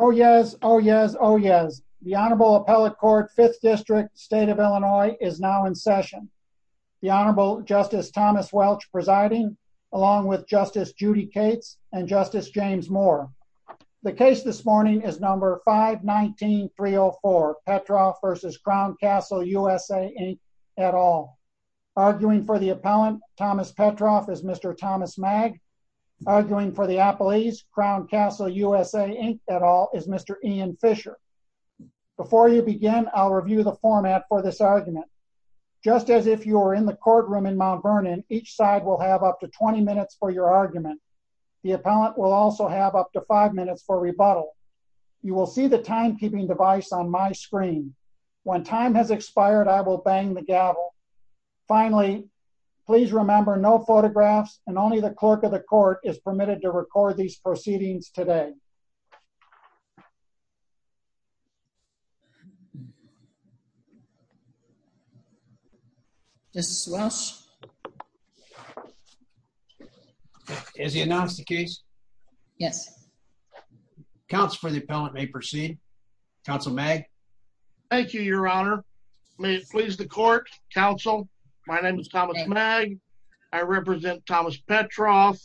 Oh yes, oh yes, oh yes. The Honorable Appellate Court, 5th District, State of Illinois, is now in session. The Honorable Justice Thomas Welch presiding, along with Justice Judy Cates and Justice James Moore. The case this morning is number 519-304, Petroff v. Crown Castle USA, Inc. at all. Arguing for the appellant, Thomas Petroff, is Mr. Thomas Magg. Arguing for the appellees, Crown Castle USA, Inc. at all, is Mr. Ian Fisher. Before you begin, I'll review the format for this argument. Just as if you were in the courtroom in Mount Vernon, each side will have up to 20 minutes for your argument. The appellant will also have up to 5 minutes for rebuttal. You will see the timekeeping device on my screen. When time has expired, I will bang the gavel. Finally, please remember, no photographs and only the clerk of the court is permitted to record these proceedings today. Justice Welch? Has he announced the case? Yes. Counsel for the appellant may proceed. Counsel Magg? Thank you, Your Honor. May it please the court, counsel. My name is Thomas Magg. I represent Thomas Petroff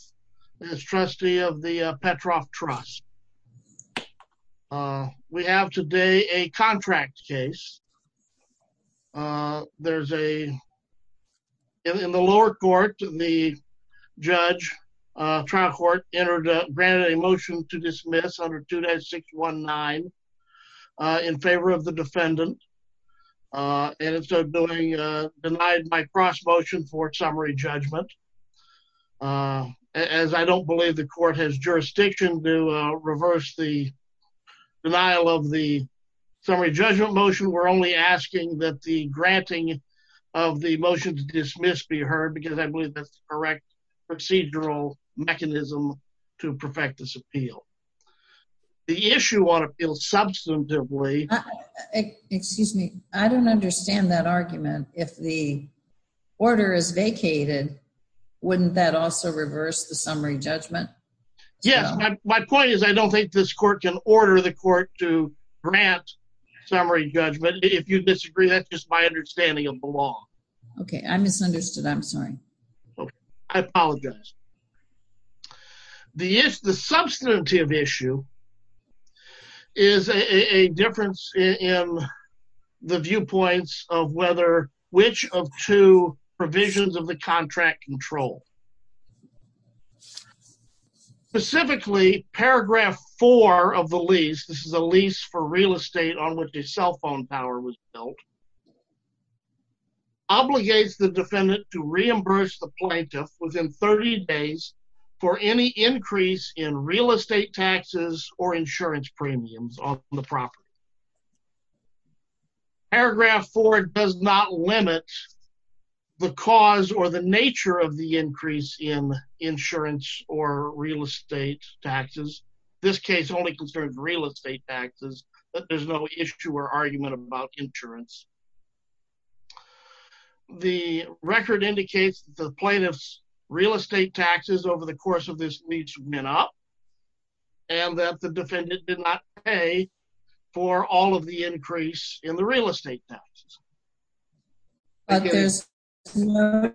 as trustee of the Petroff Trust. We have today a contract case. There's a, in the lower court, the judge, trial court entered, granted a motion to dismiss under 2-619 in favor of the defendant, and instead of doing, denied my cross motion for summary judgment. As I don't believe the court has jurisdiction to reverse the denial of the summary judgment motion, we're only asking that the granting of the motion to dismiss be heard because I believe that's the procedural mechanism to perfect this appeal. The issue on appeal substantively. Excuse me. I don't understand that argument. If the order is vacated, wouldn't that also reverse the summary judgment? Yes. My point is I don't think this court can order the court to grant summary judgment. If you disagree, that's just my understanding of the law. Okay. I misunderstood. I'm sorry. Okay. I apologize. The issue, the substantive issue is a difference in the viewpoints of whether, which of two provisions of the contract control. Specifically, paragraph four of the lease, this is a lease for real estate on which cell phone power was built, obligates the defendant to reimburse the plaintiff within 30 days for any increase in real estate taxes or insurance premiums on the property. Paragraph four does not limit the cause or the nature of the increase in insurance or real estate taxes. This case only concerns real estate taxes, but there's no issue or argument about insurance. The record indicates the plaintiff's real estate taxes over the course of this means men up and that the defendant did not pay for all of the increase in the real estate taxes. Okay.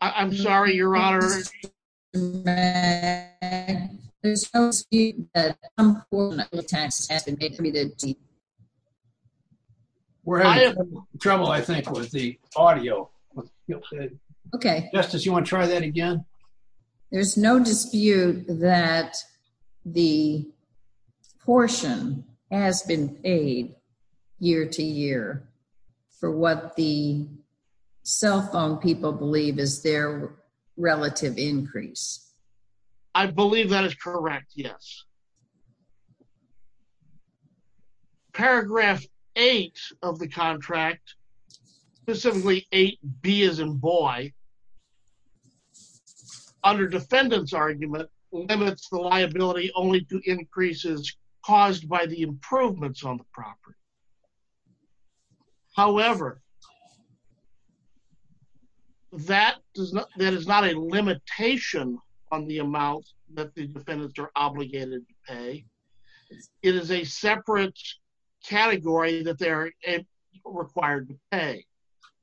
I'm sorry, your honor. There's no speed. We're having trouble, I think, with the audio. Okay. Justice, you want to try that again? There's no dispute that the portion has been paid year to year for what the cell phone people believe is their relative increase. I believe that is correct, yes. Paragraph eight of the contract, specifically 8B as in boy, under defendant's argument, limits the liability only to increases caused by the improvements on the property. However, that is not a limitation on the amount that the defendants are obligated to pay. It is a separate category that they're required to pay.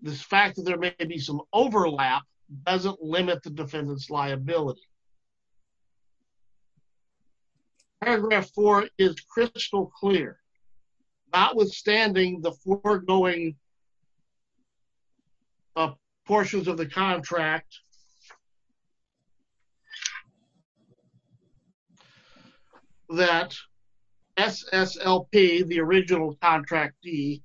This fact that there may be some overlap doesn't limit the defendant's liability. Paragraph four is crystal clear. Notwithstanding the foregoing portions of the contract, the defendant's claim is that SSLP, the original contractee,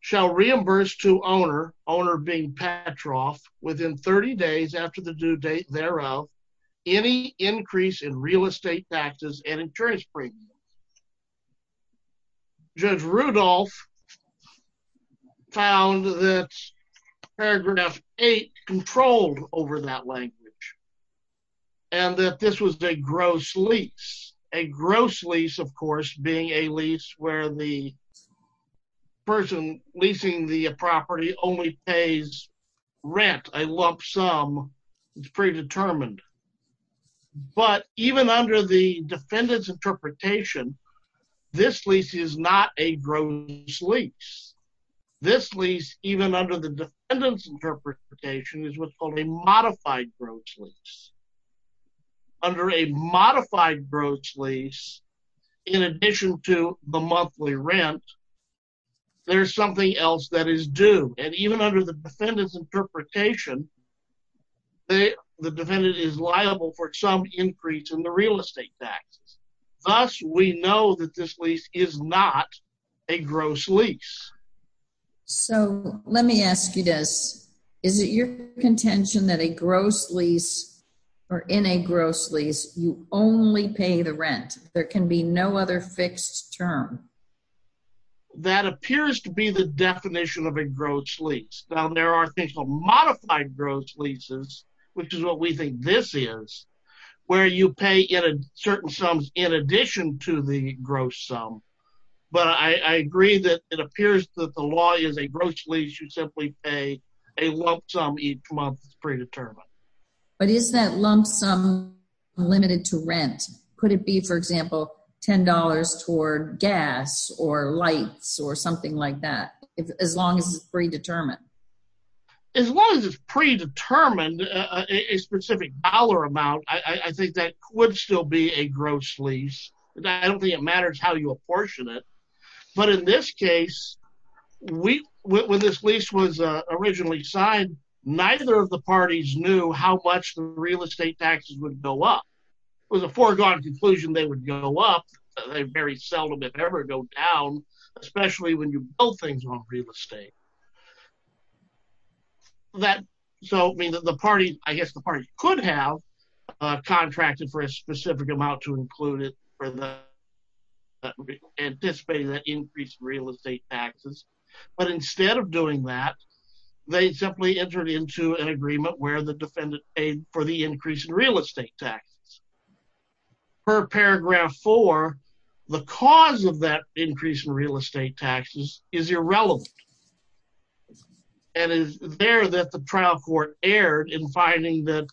shall reimburse to owner, owner being Patroff, within 30 days after the due date thereof, any increase in real estate taxes and insurance premium. Judge Rudolph found that paragraph controlled over that language and that this was a gross lease. A gross lease, of course, being a lease where the person leasing the property only pays rent, a lump sum. It's predetermined. But even under the defendant's interpretation, this lease is not a gross lease. This lease, even under the defendant's interpretation, is what's called a modified gross lease. Under a modified gross lease, in addition to the monthly rent, there's something else that is due. And even under the defendant's interpretation, the defendant is liable for some increase in the real estate tax. Thus, we know that this lease is not a gross lease. So, let me ask you this. Is it your contention that a gross lease, or in a gross lease, you only pay the rent? There can be no other fixed term? That appears to be the definition of a gross lease. Now, there are things called modified gross leases, which is what we think this is, where you pay certain sums in addition to the gross sum. But I agree that it appears that the law is a gross lease. You simply pay a lump sum each month. It's predetermined. But is that lump sum limited to rent? Could it be, for example, $10 toward gas or lights or something like that, as long as it's predetermined? As long as it's predetermined, a specific dollar amount, I think that would still be a gross lease. I don't think it matters how you apportion it. But in this case, when this lease was originally signed, neither of the parties knew how much the real estate taxes would go up. It was a foregone conclusion they would go up. They very seldom, if ever, go down, especially when you build things on real estate. I guess the party could have contracted for a specific amount to include it, anticipating that increase in real estate taxes. But instead of doing that, they simply entered into an agreement where the defendant paid for the increase in real estate taxes. Per paragraph four, the cause of that increase in real estate taxes is irrelevant. And it's there that the trial court erred in finding that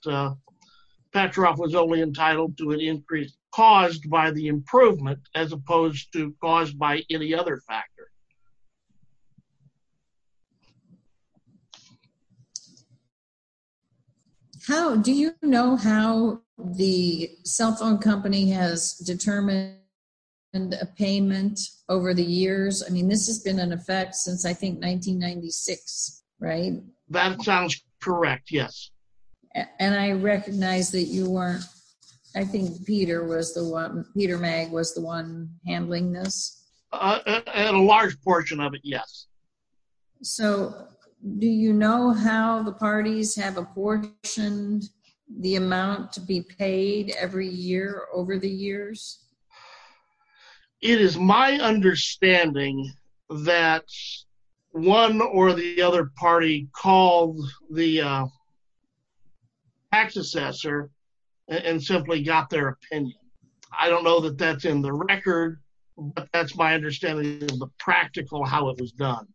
Petroff was only entitled to an increase caused by the improvement as opposed to caused by any other factor. Okay. How do you know how the cell phone company has determined a payment over the years? I mean, this has been in effect since I think 1996, right? That sounds correct. Yes. And I recognize that you weren't, I think Peter Mag was the one handling this. And a large portion of it. Yes. So do you know how the parties have apportioned the amount to be paid every year over the years? It is my understanding that one or the other party called the tax assessor and simply got their opinion. I don't know that that's in the record, but that's my understanding of the practical, how it was done.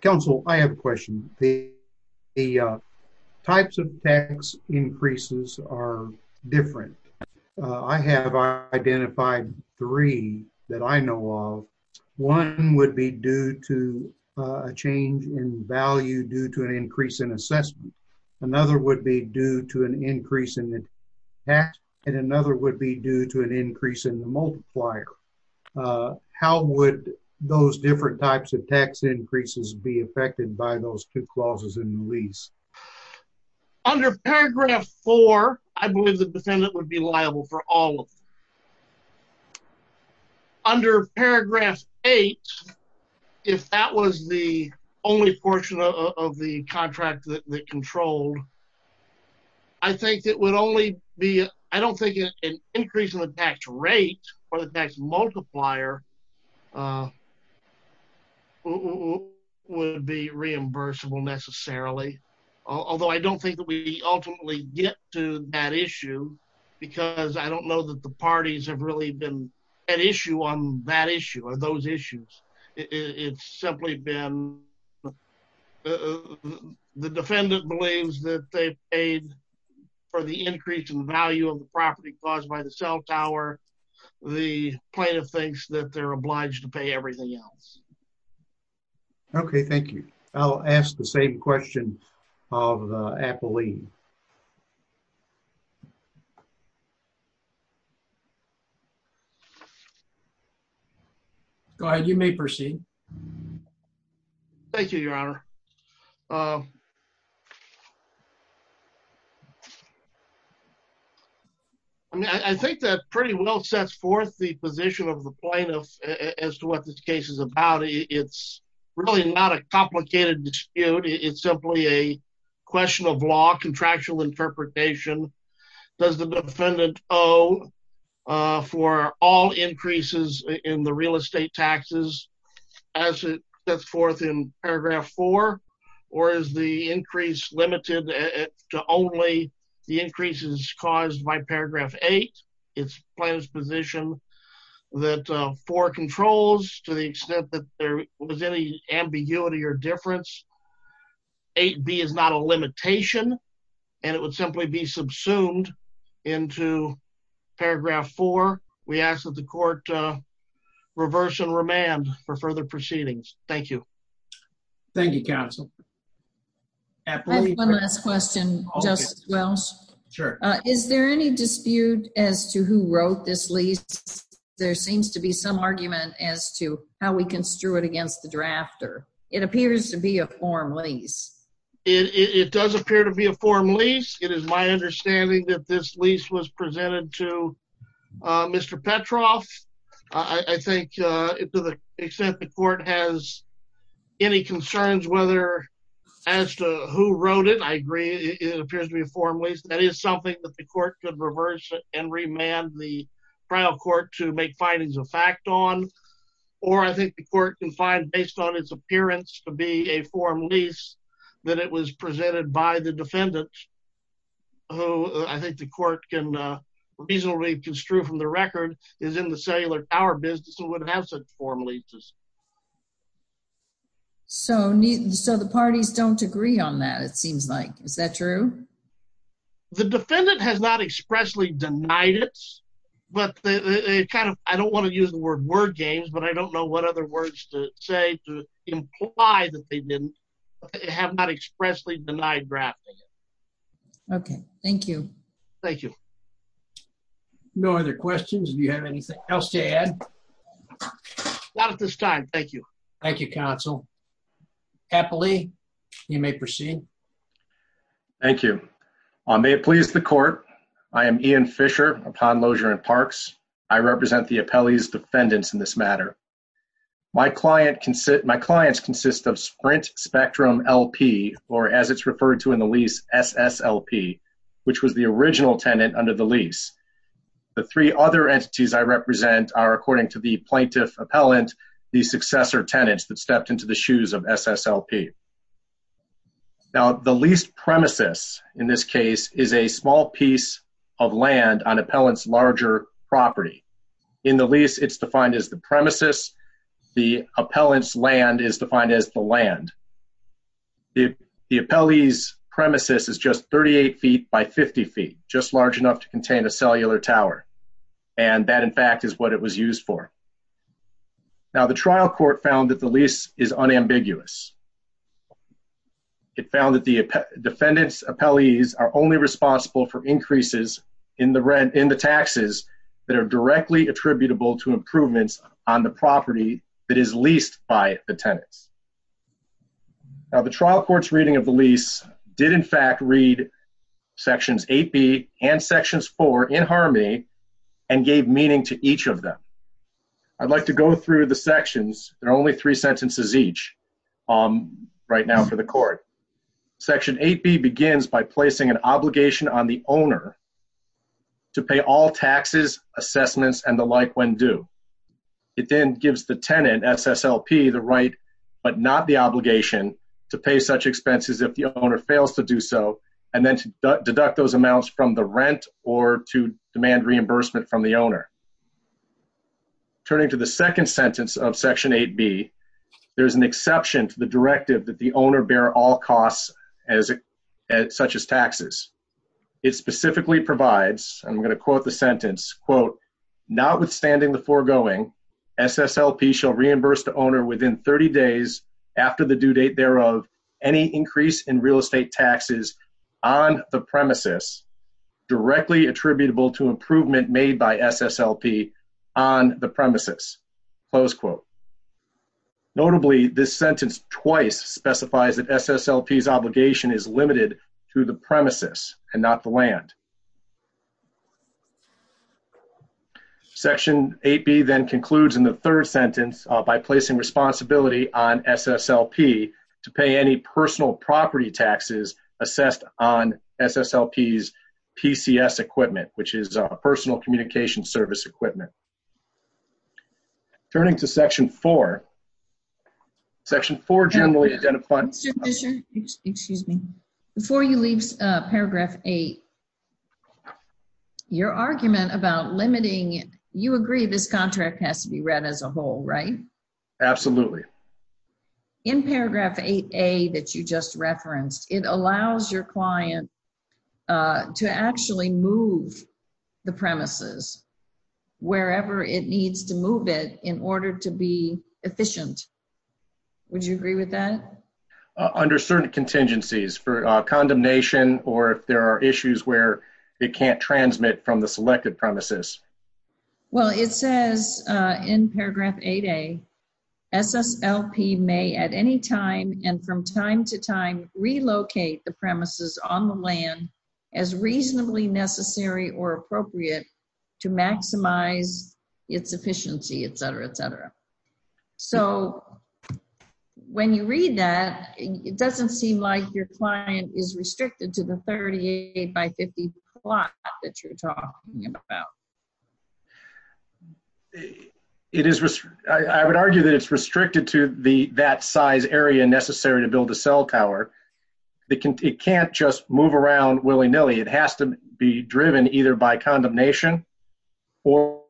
Council, I have a question. The types of tax increases are different. I have identified three that I know of. One would be due to a change in value due to an increase in assessment. Another would be due to an increase in the tax and another would be due to an increase in the multiplier. How would those different types of tax increases be affected by those two clauses in the lease? Under paragraph four, I believe the defendant would be liable for all of it. Under paragraph eight, if that was the only portion of the contract that controlled, I think it would only be, I don't think an increase in the tax rate or the tax multiplier would be reimbursable necessarily. Although I don't think that we ultimately get to that issue because I don't know that the parties have really been an issue on that issue or those issues. It's simply been, the defendant believes that they paid for the increase in value of the property caused by the cell tower. The plaintiff thinks that they're obliged to pay everything else. Okay, thank you. I'll ask the same question of Apolline. Go ahead, you may proceed. Thank you, your honor. I think that pretty well sets forth the position of the plaintiff as to what this case is about. It's really not a complicated dispute. It's simply a question of law, contractual interpretation. Does the defendant owe for all increases in the real estate taxes as it sets forth in paragraph four? Or is the increase limited to only the increases caused by paragraph eight? It's plaintiff's position that four controls to the extent that there was any ambiguity or subsumed into paragraph four, we ask that the court reverse and remand for further proceedings. Thank you. Thank you, counsel. I have one last question, Justice Welch. Is there any dispute as to who wrote this lease? There seems to be some argument as to how we construe it against the drafter. It appears to be a form lease. It does appear to be a form lease. It is my understanding that this lease was presented to Mr. Petroff. I think to the extent the court has any concerns whether as to who wrote it, I agree it appears to be a form lease. That is something that the court could reverse and remand the trial court to make findings of fact on. Or I think the court can find based on its appearance to be a form lease that it was presented by the defendant, who I think the court can reasonably construe from the record is in the cellular tower business and would have such form leases. So the parties don't agree on that, it seems like. Is that true? The defendant has not expressly denied it. I don't want to use the word word games, but I don't know what other words to say to imply that they have not expressly denied drafting. Okay, thank you. Thank you. No other questions. Do you have anything else to add? Not at this time, thank you. Thank you, counsel. Happily, you may proceed. Thank you. May it please the court, I am Ian Fisher, a pond loger in Parks. I represent the appellee's defendants in this matter. My clients consist of Sprint Spectrum LP, or as it's referred to in the lease, SSLP, which was the original tenant under the lease. The three other entities I represent are, according to the plaintiff appellant, the successor tenants that stepped into the shoes of SSLP. Now, the lease premises in this case is a small piece of land on appellant's larger property. In the lease, it's defined as the premises. The appellant's land is defined as the land. The appellee's premises is just 38 feet by 50 feet, just large enough to contain a cellular tower. And that, in fact, is what it was used for. Now, the trial court found that the lease is unambiguous. It found that the defendant's appellees are only responsible for increases in the rent, in the taxes that are directly attributable to improvements on the property that is leased by the tenants. Now, the trial court's reading of the lease did, in fact, read Sections 8B and Sections 4 in harmony and gave meaning to each of them. I'd like to go through the sections. There are only three sentences each right now for the court. Section 8B begins by placing an obligation on the owner to pay all taxes, assessments, and the like when due. It then gives the tenant, SSLP, the right but not the obligation to pay such expenses if the owner fails to do so and then to deduct those amounts from the rent or to demand reimbursement from the owner. Turning to the second sentence of Section 8B, there's an exception to the directive that the owner bear all costs such as taxes. It specifically provides, I'm going to quote the sentence, quote, notwithstanding the foregoing, SSLP shall reimburse the owner within 30 days after the due date thereof any increase in real estate taxes on the premises directly attributable to improvement made by SSLP on the premises, close quote. Notably, this sentence twice specifies that SSLP's obligation is limited to the premises and not the land. Section 8B then concludes in the third sentence by placing responsibility on SSLP to pay any personal property taxes assessed on SSLP's PCS equipment, which is personal communication service equipment. Turning to Section 4, Section 4 generally identifies- Excuse me. Before you leave Paragraph 8, your argument about limiting, you agree this contract has to be read as a whole, right? Absolutely. In Paragraph 8A that you just referenced, it allows your client to actually move the premises wherever it needs to move it in order to be efficient. Would you agree with that? Under certain contingencies for condemnation or if there are issues where it can't transmit from the selected premises. Well, it says in Paragraph 8A, SSLP may at any time and from time to time relocate the land as reasonably necessary or appropriate to maximize its efficiency, et cetera, et cetera. So when you read that, it doesn't seem like your client is restricted to the 38 by 50 plot that you're talking about. I would argue that it's restricted to that size area necessary to build a cell tower. It can't just move around willy-nilly. It has to be driven either by condemnation or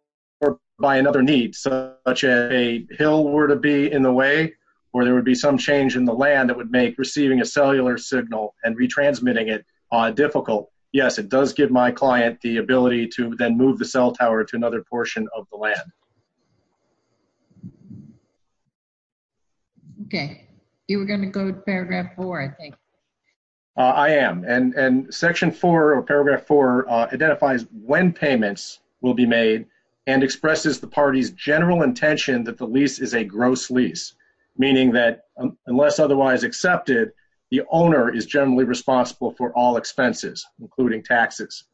by another need, such as a hill were to be in the way or there would be some change in the land that would make receiving a cellular signal and retransmitting it difficult. Yes, it does give my client the ability to then move the cell tower to another portion of the land. Okay. You were going to go to Paragraph 4, I think. I am. And Section 4 or Paragraph 4 identifies when payments will be made and expresses the party's general intention that the lease is a gross lease, meaning that unless otherwise accepted, the owner is generally responsible for all expenses, including taxes.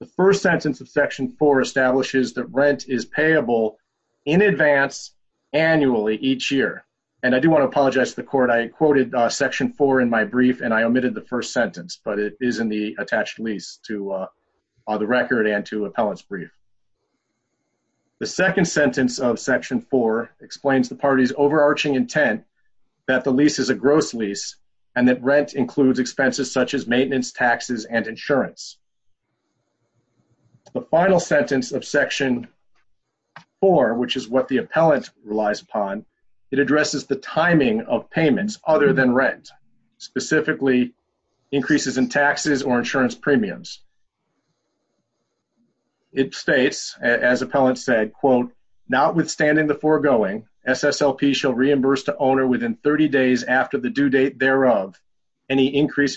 The first sentence of Section 4 establishes that rent is payable in advance annually each year. And I do want to apologize to the court. I quoted Section 4 in my brief and I omitted the first sentence, but it is in the attached lease to the record and to appellant's brief. The second sentence of Section 4 explains the party's overarching intent that the lease is a gross lease and that rent includes expenses such as maintenance, taxes, and insurance. The final sentence of Section 4, which is what the appellant relies upon, it addresses the timing of payments other than rent, specifically increases in taxes or insurance premiums. It states, as appellant said, quote, notwithstanding the foregoing, SSLP shall reimburse the owner within 30 days after the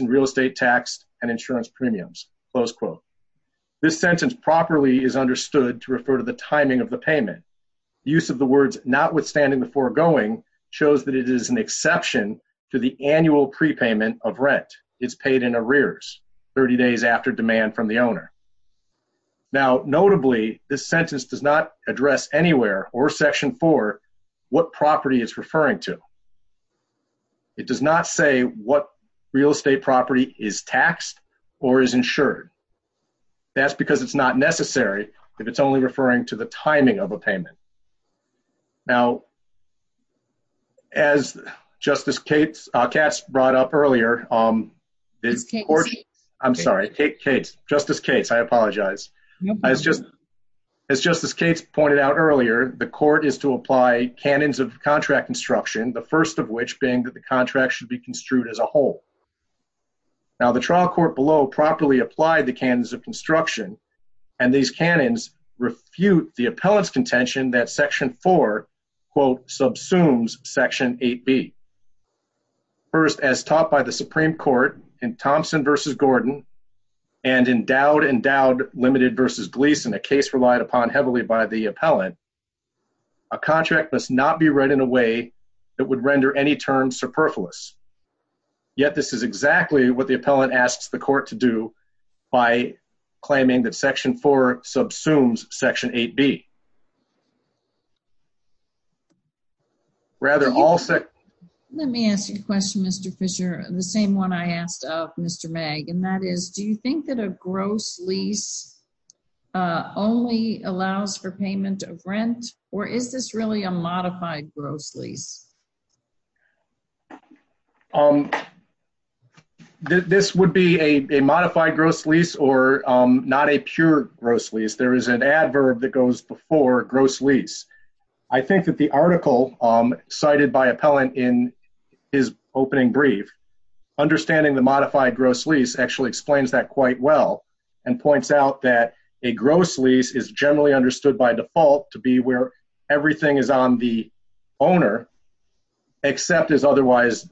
real estate tax and insurance premiums, close quote. This sentence properly is understood to refer to the timing of the payment. Use of the words notwithstanding the foregoing shows that it is an exception to the annual prepayment of rent. It's paid in arrears 30 days after demand from the owner. Now, notably, this sentence does not address anywhere or Section 4 what property it's referring to. It does not say what real estate property is taxed or is insured. That's because it's not necessary if it's only referring to the timing of a payment. Now, as Justice Cates brought up earlier, I'm sorry, Justice Cates, I apologize. As Justice Cates pointed out earlier, the court is to apply canons of contract construction, the first of which being that the contract should be construed as a whole. Now, the trial court below properly applied the canons of construction and these canons refute the appellant's contention that Section 4, quote, subsumes Section 8B. First, as taught by the Supreme Court in Thompson v. Gordon and endowed, endowed, limited v. Gleason, a case relied upon heavily by the appellant, a contract must not be read in a way that would render any term superfluous. Yet, this is exactly what the appellant asks the court to do by claiming that Section 4 subsumes Section 8B. Let me ask you a question, Mr. Fisher, the same one I asked of Mr. Magg, and that is, do you think that a gross lease only allows for payment of rent or is this really a modified gross lease? This would be a modified gross lease or not a pure gross lease. There is an adverb that goes before gross lease. I think that the article cited by appellant in his opening brief, understanding the modified gross lease actually explains that quite well and points out that a gross lease is generally understood by default to be where everything is on the owner except as otherwise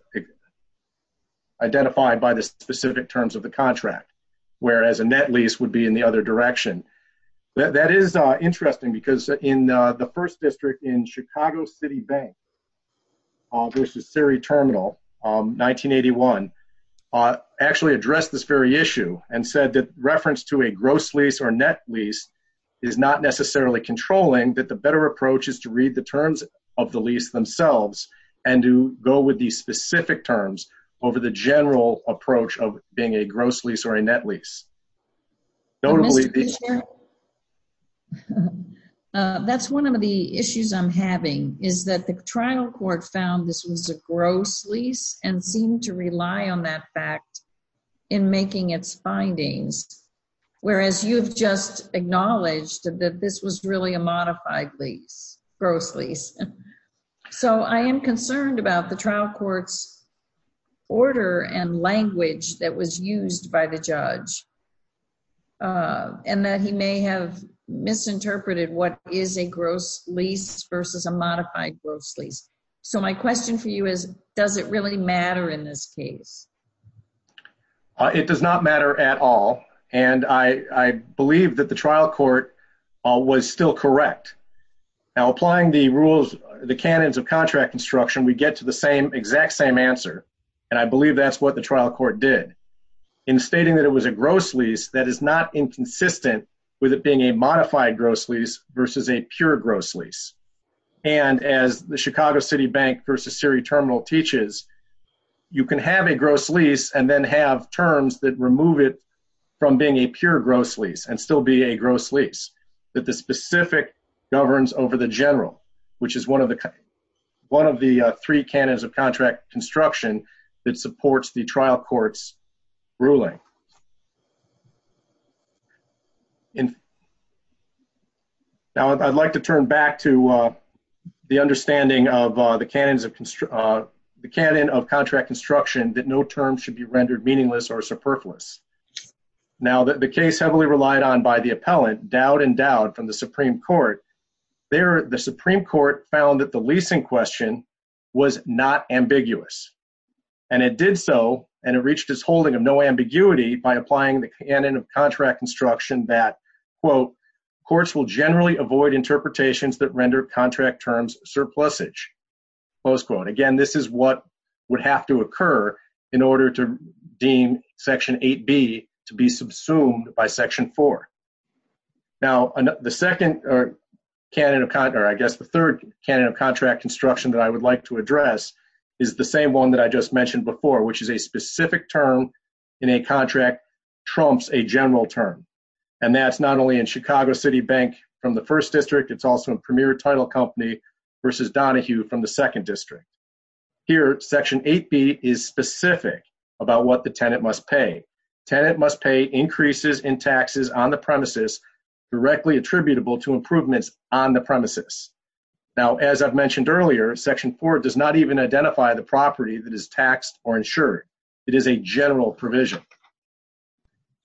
identified by the specific terms of the contract, whereas a gross lease is generally understood to be where everything is on the other direction. That is interesting because in the first district in Chicago City Bank, there's the Siri Terminal, 1981, actually addressed this very issue and said that reference to a gross lease or net lease is not necessarily controlling, that the better approach is to read the terms of the lease themselves and to go with these specific terms over the general approach of being a gross lease or a net lease. That's one of the issues I'm having is that the trial court found this was a gross lease and seemed to rely on that fact in making its findings, whereas you've just So I am concerned about the trial court's order and language that was used by the judge and that he may have misinterpreted what is a gross lease versus a modified gross lease. So my question for you is, does it really matter in this case? It does not matter at all and I believe that the trial court was still correct. Now applying the canons of contract construction, we get to the exact same answer and I believe that's what the trial court did in stating that it was a gross lease that is not inconsistent with it being a modified gross lease versus a pure gross lease. And as the Chicago City Bank versus Siri Terminal teaches, you can have a gross lease and then have terms that remove it from being a pure gross lease and still be a gross lease. That the specific governs over the general, which is one of the three canons of contract construction that supports the trial court's ruling. Now I'd like to turn back to the understanding of the canon of contract construction that no case heavily relied on by the appellant, Dowd and Dowd from the Supreme Court. There, the Supreme Court found that the leasing question was not ambiguous and it did so and it reached its holding of no ambiguity by applying the canon of contract construction that, quote, courts will generally avoid interpretations that render contract terms surplusage, close quote. Again, this is what would have to occur in order to deem Section 8B to be subsumed by Section 4. Now the second canon of, or I guess the third canon of contract construction that I would like to address is the same one that I just mentioned before, which is a specific term in a contract trumps a general term. And that's not only in Chicago City Bank from the first Here, Section 8B is specific about what the tenant must pay. Tenant must pay increases in taxes on the premises directly attributable to improvements on the premises. Now, as I've mentioned earlier, Section 4 does not even identify the property that is taxed or insured. It is a general provision.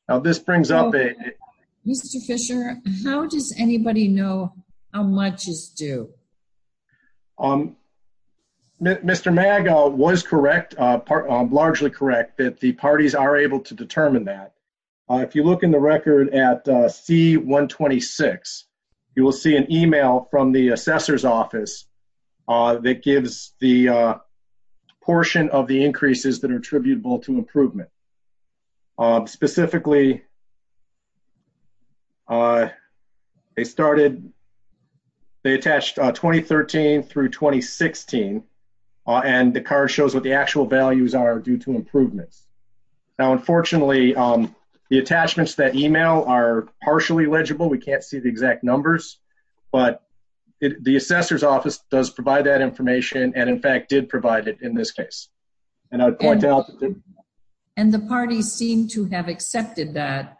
Now this brings up a... Mr. Fisher, how does anybody know how much is due? Um, Mr. Maga was correct, largely correct, that the parties are able to determine that. If you look in the record at C-126, you will see an email from the assessor's office that gives the portion of the increases that are attributable to improvement. Specifically, they started, they attached 2013 through 2016, and the card shows what the actual values are due to improvements. Now unfortunately, the attachments that email are partially legible, we can't see the exact numbers, but the assessor's office does provide that information and in fact did provide it in this case. And I would point out... And the parties seem to have accepted that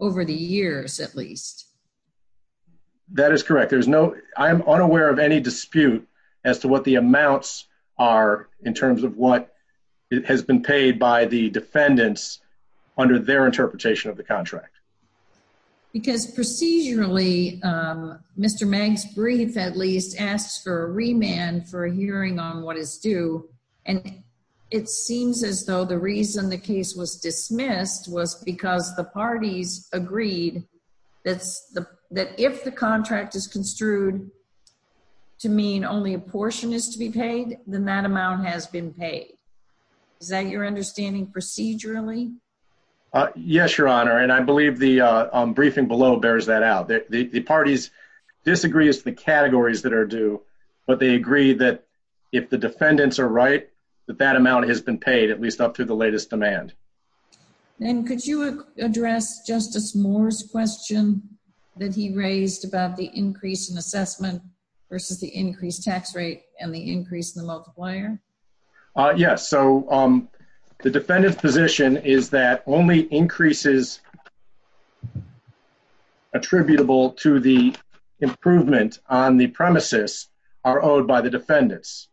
over the years at least. That is correct. There's no... I am unaware of any dispute as to what the amounts are in terms of what has been paid by the defendants under their interpretation of the contract. Because procedurally, Mr. Mag's brief at least asks for a remand for a hearing on what is due, and it seems as though the reason the case was parties agreed that if the contract is construed to mean only a portion is to be paid, then that amount has been paid. Is that your understanding procedurally? Yes, Your Honor, and I believe the briefing below bears that out. The parties disagree as to the categories that are due, but they agree that if the defendants are right, that that amount has been paid at least up to the latest demand. And could you address Justice Moore's question that he raised about the increase in assessment versus the increased tax rate and the increase in the multiplier? Yes, so the defendant's position is that only increases attributable to the improvement on the premises are owed by the defendants.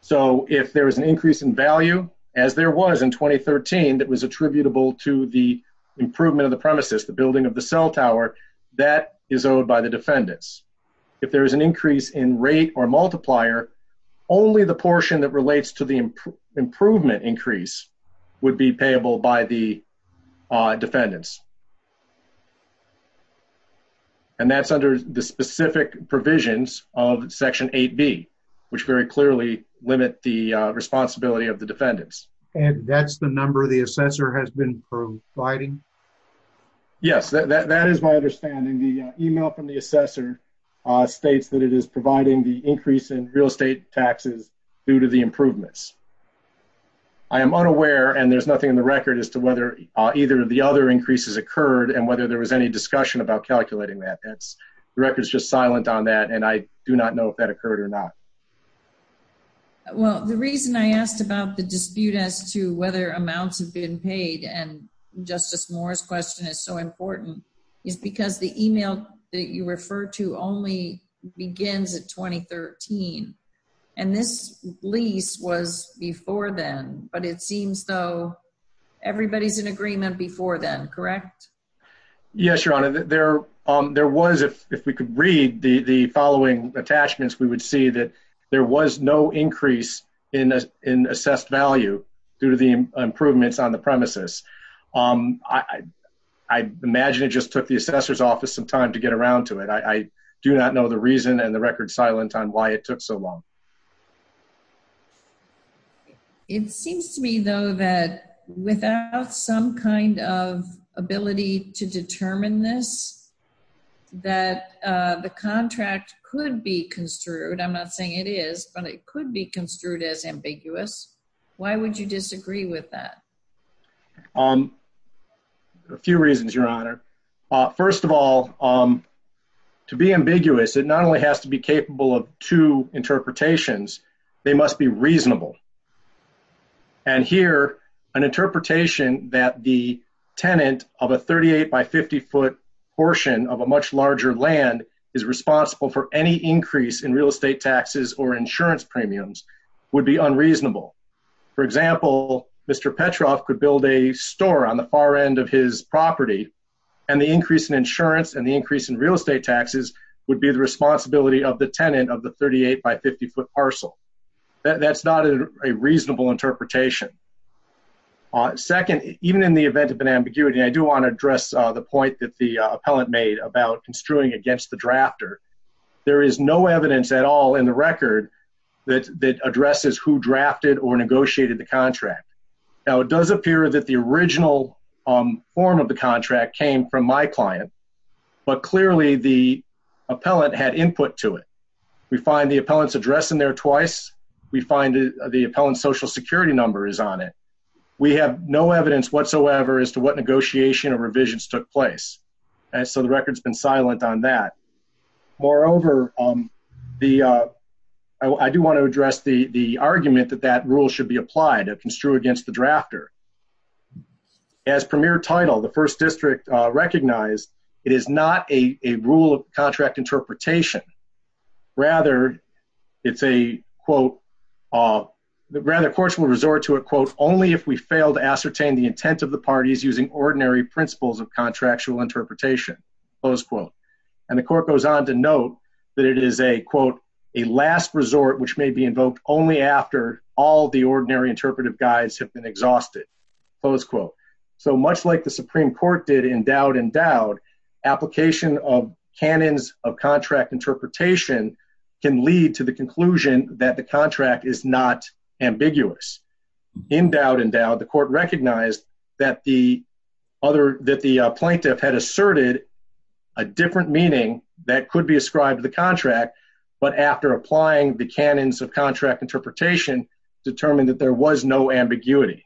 So if there is an increase in value, as there was in 2013 that was attributable to the improvement of the premises, the building of the cell tower, that is owed by the defendants. If there is an increase in rate or multiplier, only the portion that relates to the improvement increase would be payable by the defendants. And that's under the specific provisions of Section 8B, which very clearly limit the responsibility of the defendants. And that's the number the assessor has been providing? Yes, that is my understanding. The email from the assessor states that it is providing the increase in real estate taxes due to the improvements. I am unaware, and there's nothing in the record, as to whether either of the other increases occurred and whether there was any discussion about calculating that. The record is just silent on that, and I do not know if that occurred or not. Well, the reason I asked about the dispute as to whether amounts have been paid, and Justice Moore's question is so important, is because the email that you refer to only begins in 2013. And this lease was before then, but it seems though everybody's in agreement before then, correct? Yes, Your Honor. There was, if we could read the following attachments, we would see that there was no increase in assessed value due to the improvements on the premises. I imagine it just took the assessor's office some time to get around to it. I do not know the reason and the record silent on why it took so long. It seems to me though that without some kind of ability to determine this, that the contract could be construed, I'm not saying it is, but it could be construed as ambiguous. Why would you disagree with that? A few reasons, Your Honor. First of all, to be ambiguous, it not only has to be capable of two interpretations, they must be reasonable. And here, an interpretation that the tenant of a 38 by 50 foot portion of a much larger land is responsible for any increase in real estate taxes or insurance premiums would be unreasonable. For example, Mr. Petrov could build a store on the far end of his property, and the increase in insurance and the increase in real estate taxes would be the responsibility of the tenant of the 38 by 50 foot parcel. That's not a reasonable interpretation. Second, even in the event of an ambiguity, I do want to address the point that the appellant made about construing against the drafter. There is no evidence at all in the record that addresses who drafted or negotiated the contract. Now it does appear that the original form of the contract came from my appellant had input to it. We find the appellant's address in there twice. We find the appellant's social security number is on it. We have no evidence whatsoever as to what negotiation or revisions took place. And so the record's been silent on that. Moreover, I do want to address the argument that that rule should be applied to construe against the drafter. As premier title, the first district recognized, it is not a rule of contract interpretation. Rather, it's a quote, rather courts will resort to a quote, only if we fail to ascertain the intent of the parties using ordinary principles of contractual interpretation, close quote. And the court goes on to note that it is a quote, a last resort, which may be invoked only after all the ordinary interpretive guides have been exhausted, close quote. So much like the Supreme Court did in Dowd and Dowd, application of canons of contract interpretation can lead to the conclusion that the contract is not ambiguous. In Dowd and Dowd, the court recognized that the other, that the plaintiff had asserted a different meaning that could be ascribed to the contract, but after applying the canons of contract interpretation, determined that there was no ambiguity.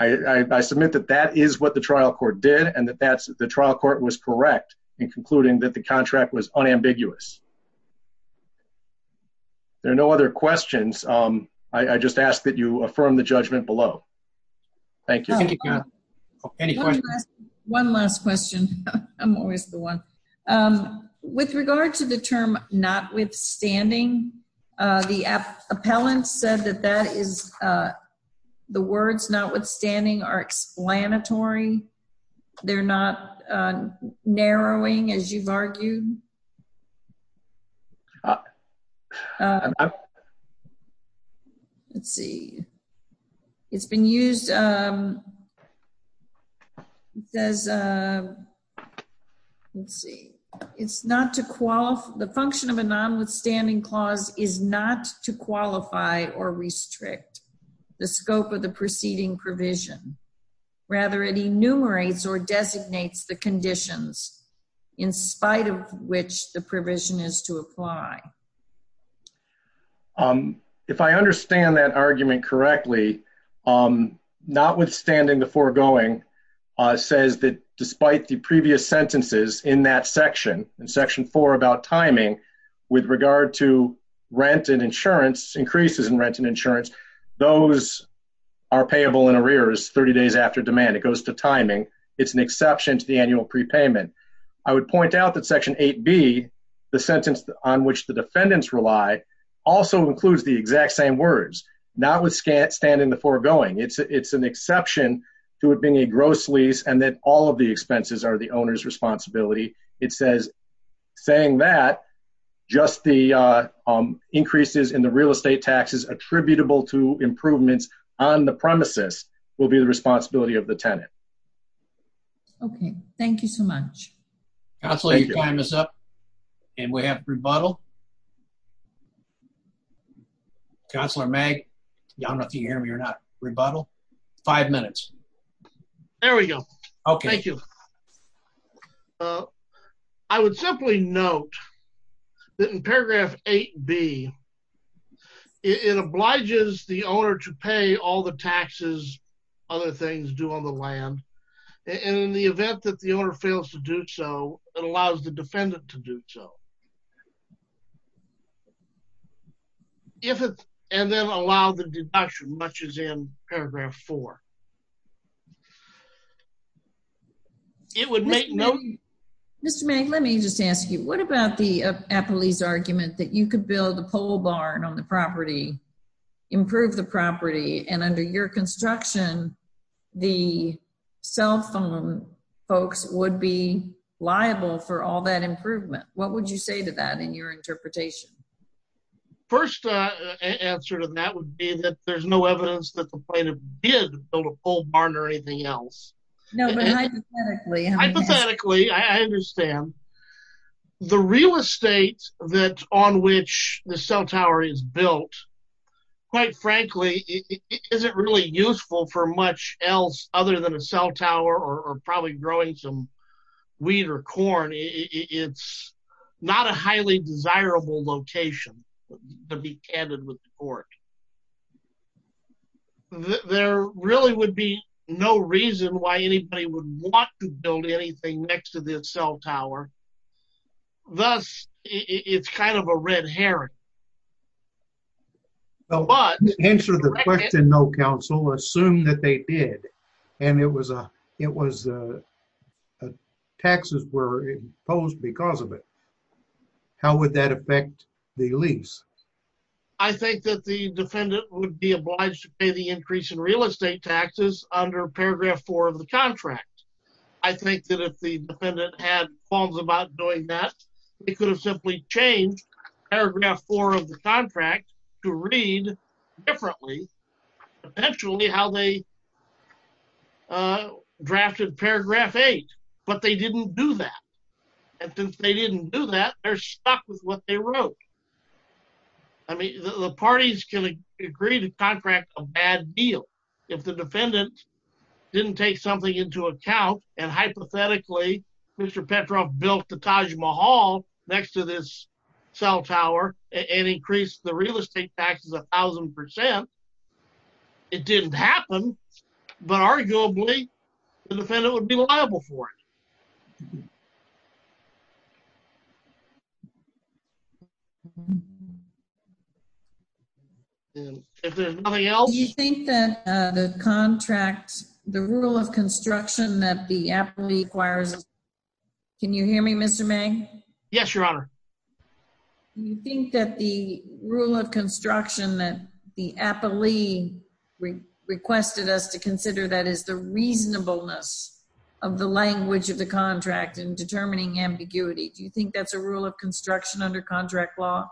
I submit that that is what the trial court did and that the trial court was correct in concluding that the contract was unambiguous. There are no other questions. I just ask that you affirm the judgment below. Thank you. One last question. I'm always the one. With regard to the term notwithstanding, the appellant said that that is the words notwithstanding are explanatory. They're not narrowing as you've argued. Let's see. It's been used. It says, let's see. It's not to, the function of a nonwithstanding clause is not to qualify or restrict the scope of the proceeding provision. Rather, it enumerates or designates the conditions in spite of which the provision is to apply. If I understand that argument correctly, notwithstanding the foregoing, says that despite the previous sentences in that section, in section four about timing, with regard to rent and insurance, increases in rent and insurance, those are payable in arrears 30 days after demand. It goes to timing. It's an exception to the annual prepayment. I would point out that section 8B, the sentence on which the defendants rely, also includes the exact same words, notwithstanding the foregoing. It's an exception to it being a gross lease and that all of the expenses are the owner's responsibility. It says, saying that just the increases in the real estate taxes attributable to improvements on the premises will be the responsibility of the tenant. Okay. Thank you so much. Counselor, your time is up and we have rebuttal. Counselor Mag, I don't know if you can hear me or not, rebuttal. Five minutes. There we go. Okay. Thank you. I would simply note that in paragraph 8B, it obliges the owner to pay all the taxes other things do on the land. And in the event that the owner fails to do so, it allows the defendant to do so. And then allow the deduction, much as in paragraph four. Mr. Mag, let me just ask you, what about the Appley's argument that you could build a pole barn on the property, improve the property, and under your construction, the cell phone folks would be liable for all that improvement? What would you say to that in your interpretation? First answer to that would be that there's no evidence that the plaintiff did build a pole barn or anything else. No, but hypothetically. Hypothetically, I understand. The real estate on which the cell tower is built, quite frankly, isn't really useful for much else other than a cell tower or probably growing some wheat or corn. It's not a highly desirable location, to be candid with the court. There really would be no reason why anybody would want to build anything next to the cell tower. Thus, it's kind of a red herring. Answer the question, no, counsel. Assume that they did, and it was, taxes were imposed because of it. How would that affect the lease? I think that the defendant would be obliged to pay the increase in real estate taxes under paragraph four of the contract. I think that if the defendant had qualms about doing that, they could have simply changed paragraph four of the contract to read differently, potentially how they drafted paragraph eight, but they didn't do that. And since they didn't do that, they're stuck with what they wrote. I mean, the parties can agree to contract a bad deal if the defendant didn't take something into account, and hypothetically, Mr. Petroff built the Taj Mahal next to this cell tower and increased the real estate taxes a thousand percent. It didn't happen, but arguably, the defendant would be liable for it. Do you think that the contract, the rule of construction that the appellee requires, can you hear me, Mr. May? Yes, your honor. Do you think that the rule of construction that the appellee requested us to consider, that is the reasonableness of the language of the contract in determining ambiguity, do you think that's a rule of construction under contract law?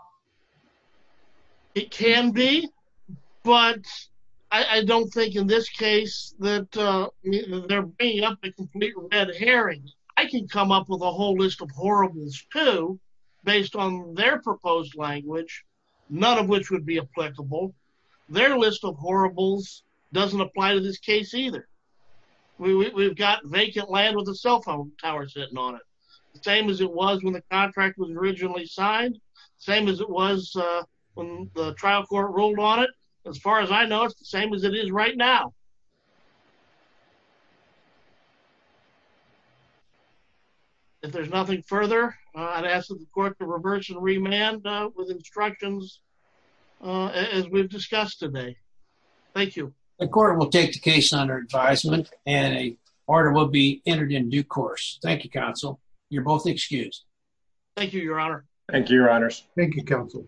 It can be, but I don't think in this case that they're bringing up a complete red herring. I can come up with a whole list of horribles too, based on their proposed language, none of which would be applicable. Their list of horribles doesn't apply to this case either. We've got vacant land with a cell phone tower sitting on it, the same as it was when the contract was originally signed, same as it was when the trial court ruled on it. As far as I know, it's the same as it is right now. If there's nothing further, I'd ask that the court to reverse and remand with instructions as we've discussed today. Thank you. The court will take the case under advisement and an order will be entered in due course. Thank you, counsel. You're both excused. Thank you, your honor. Thank you, your honors. Thank you, counsel.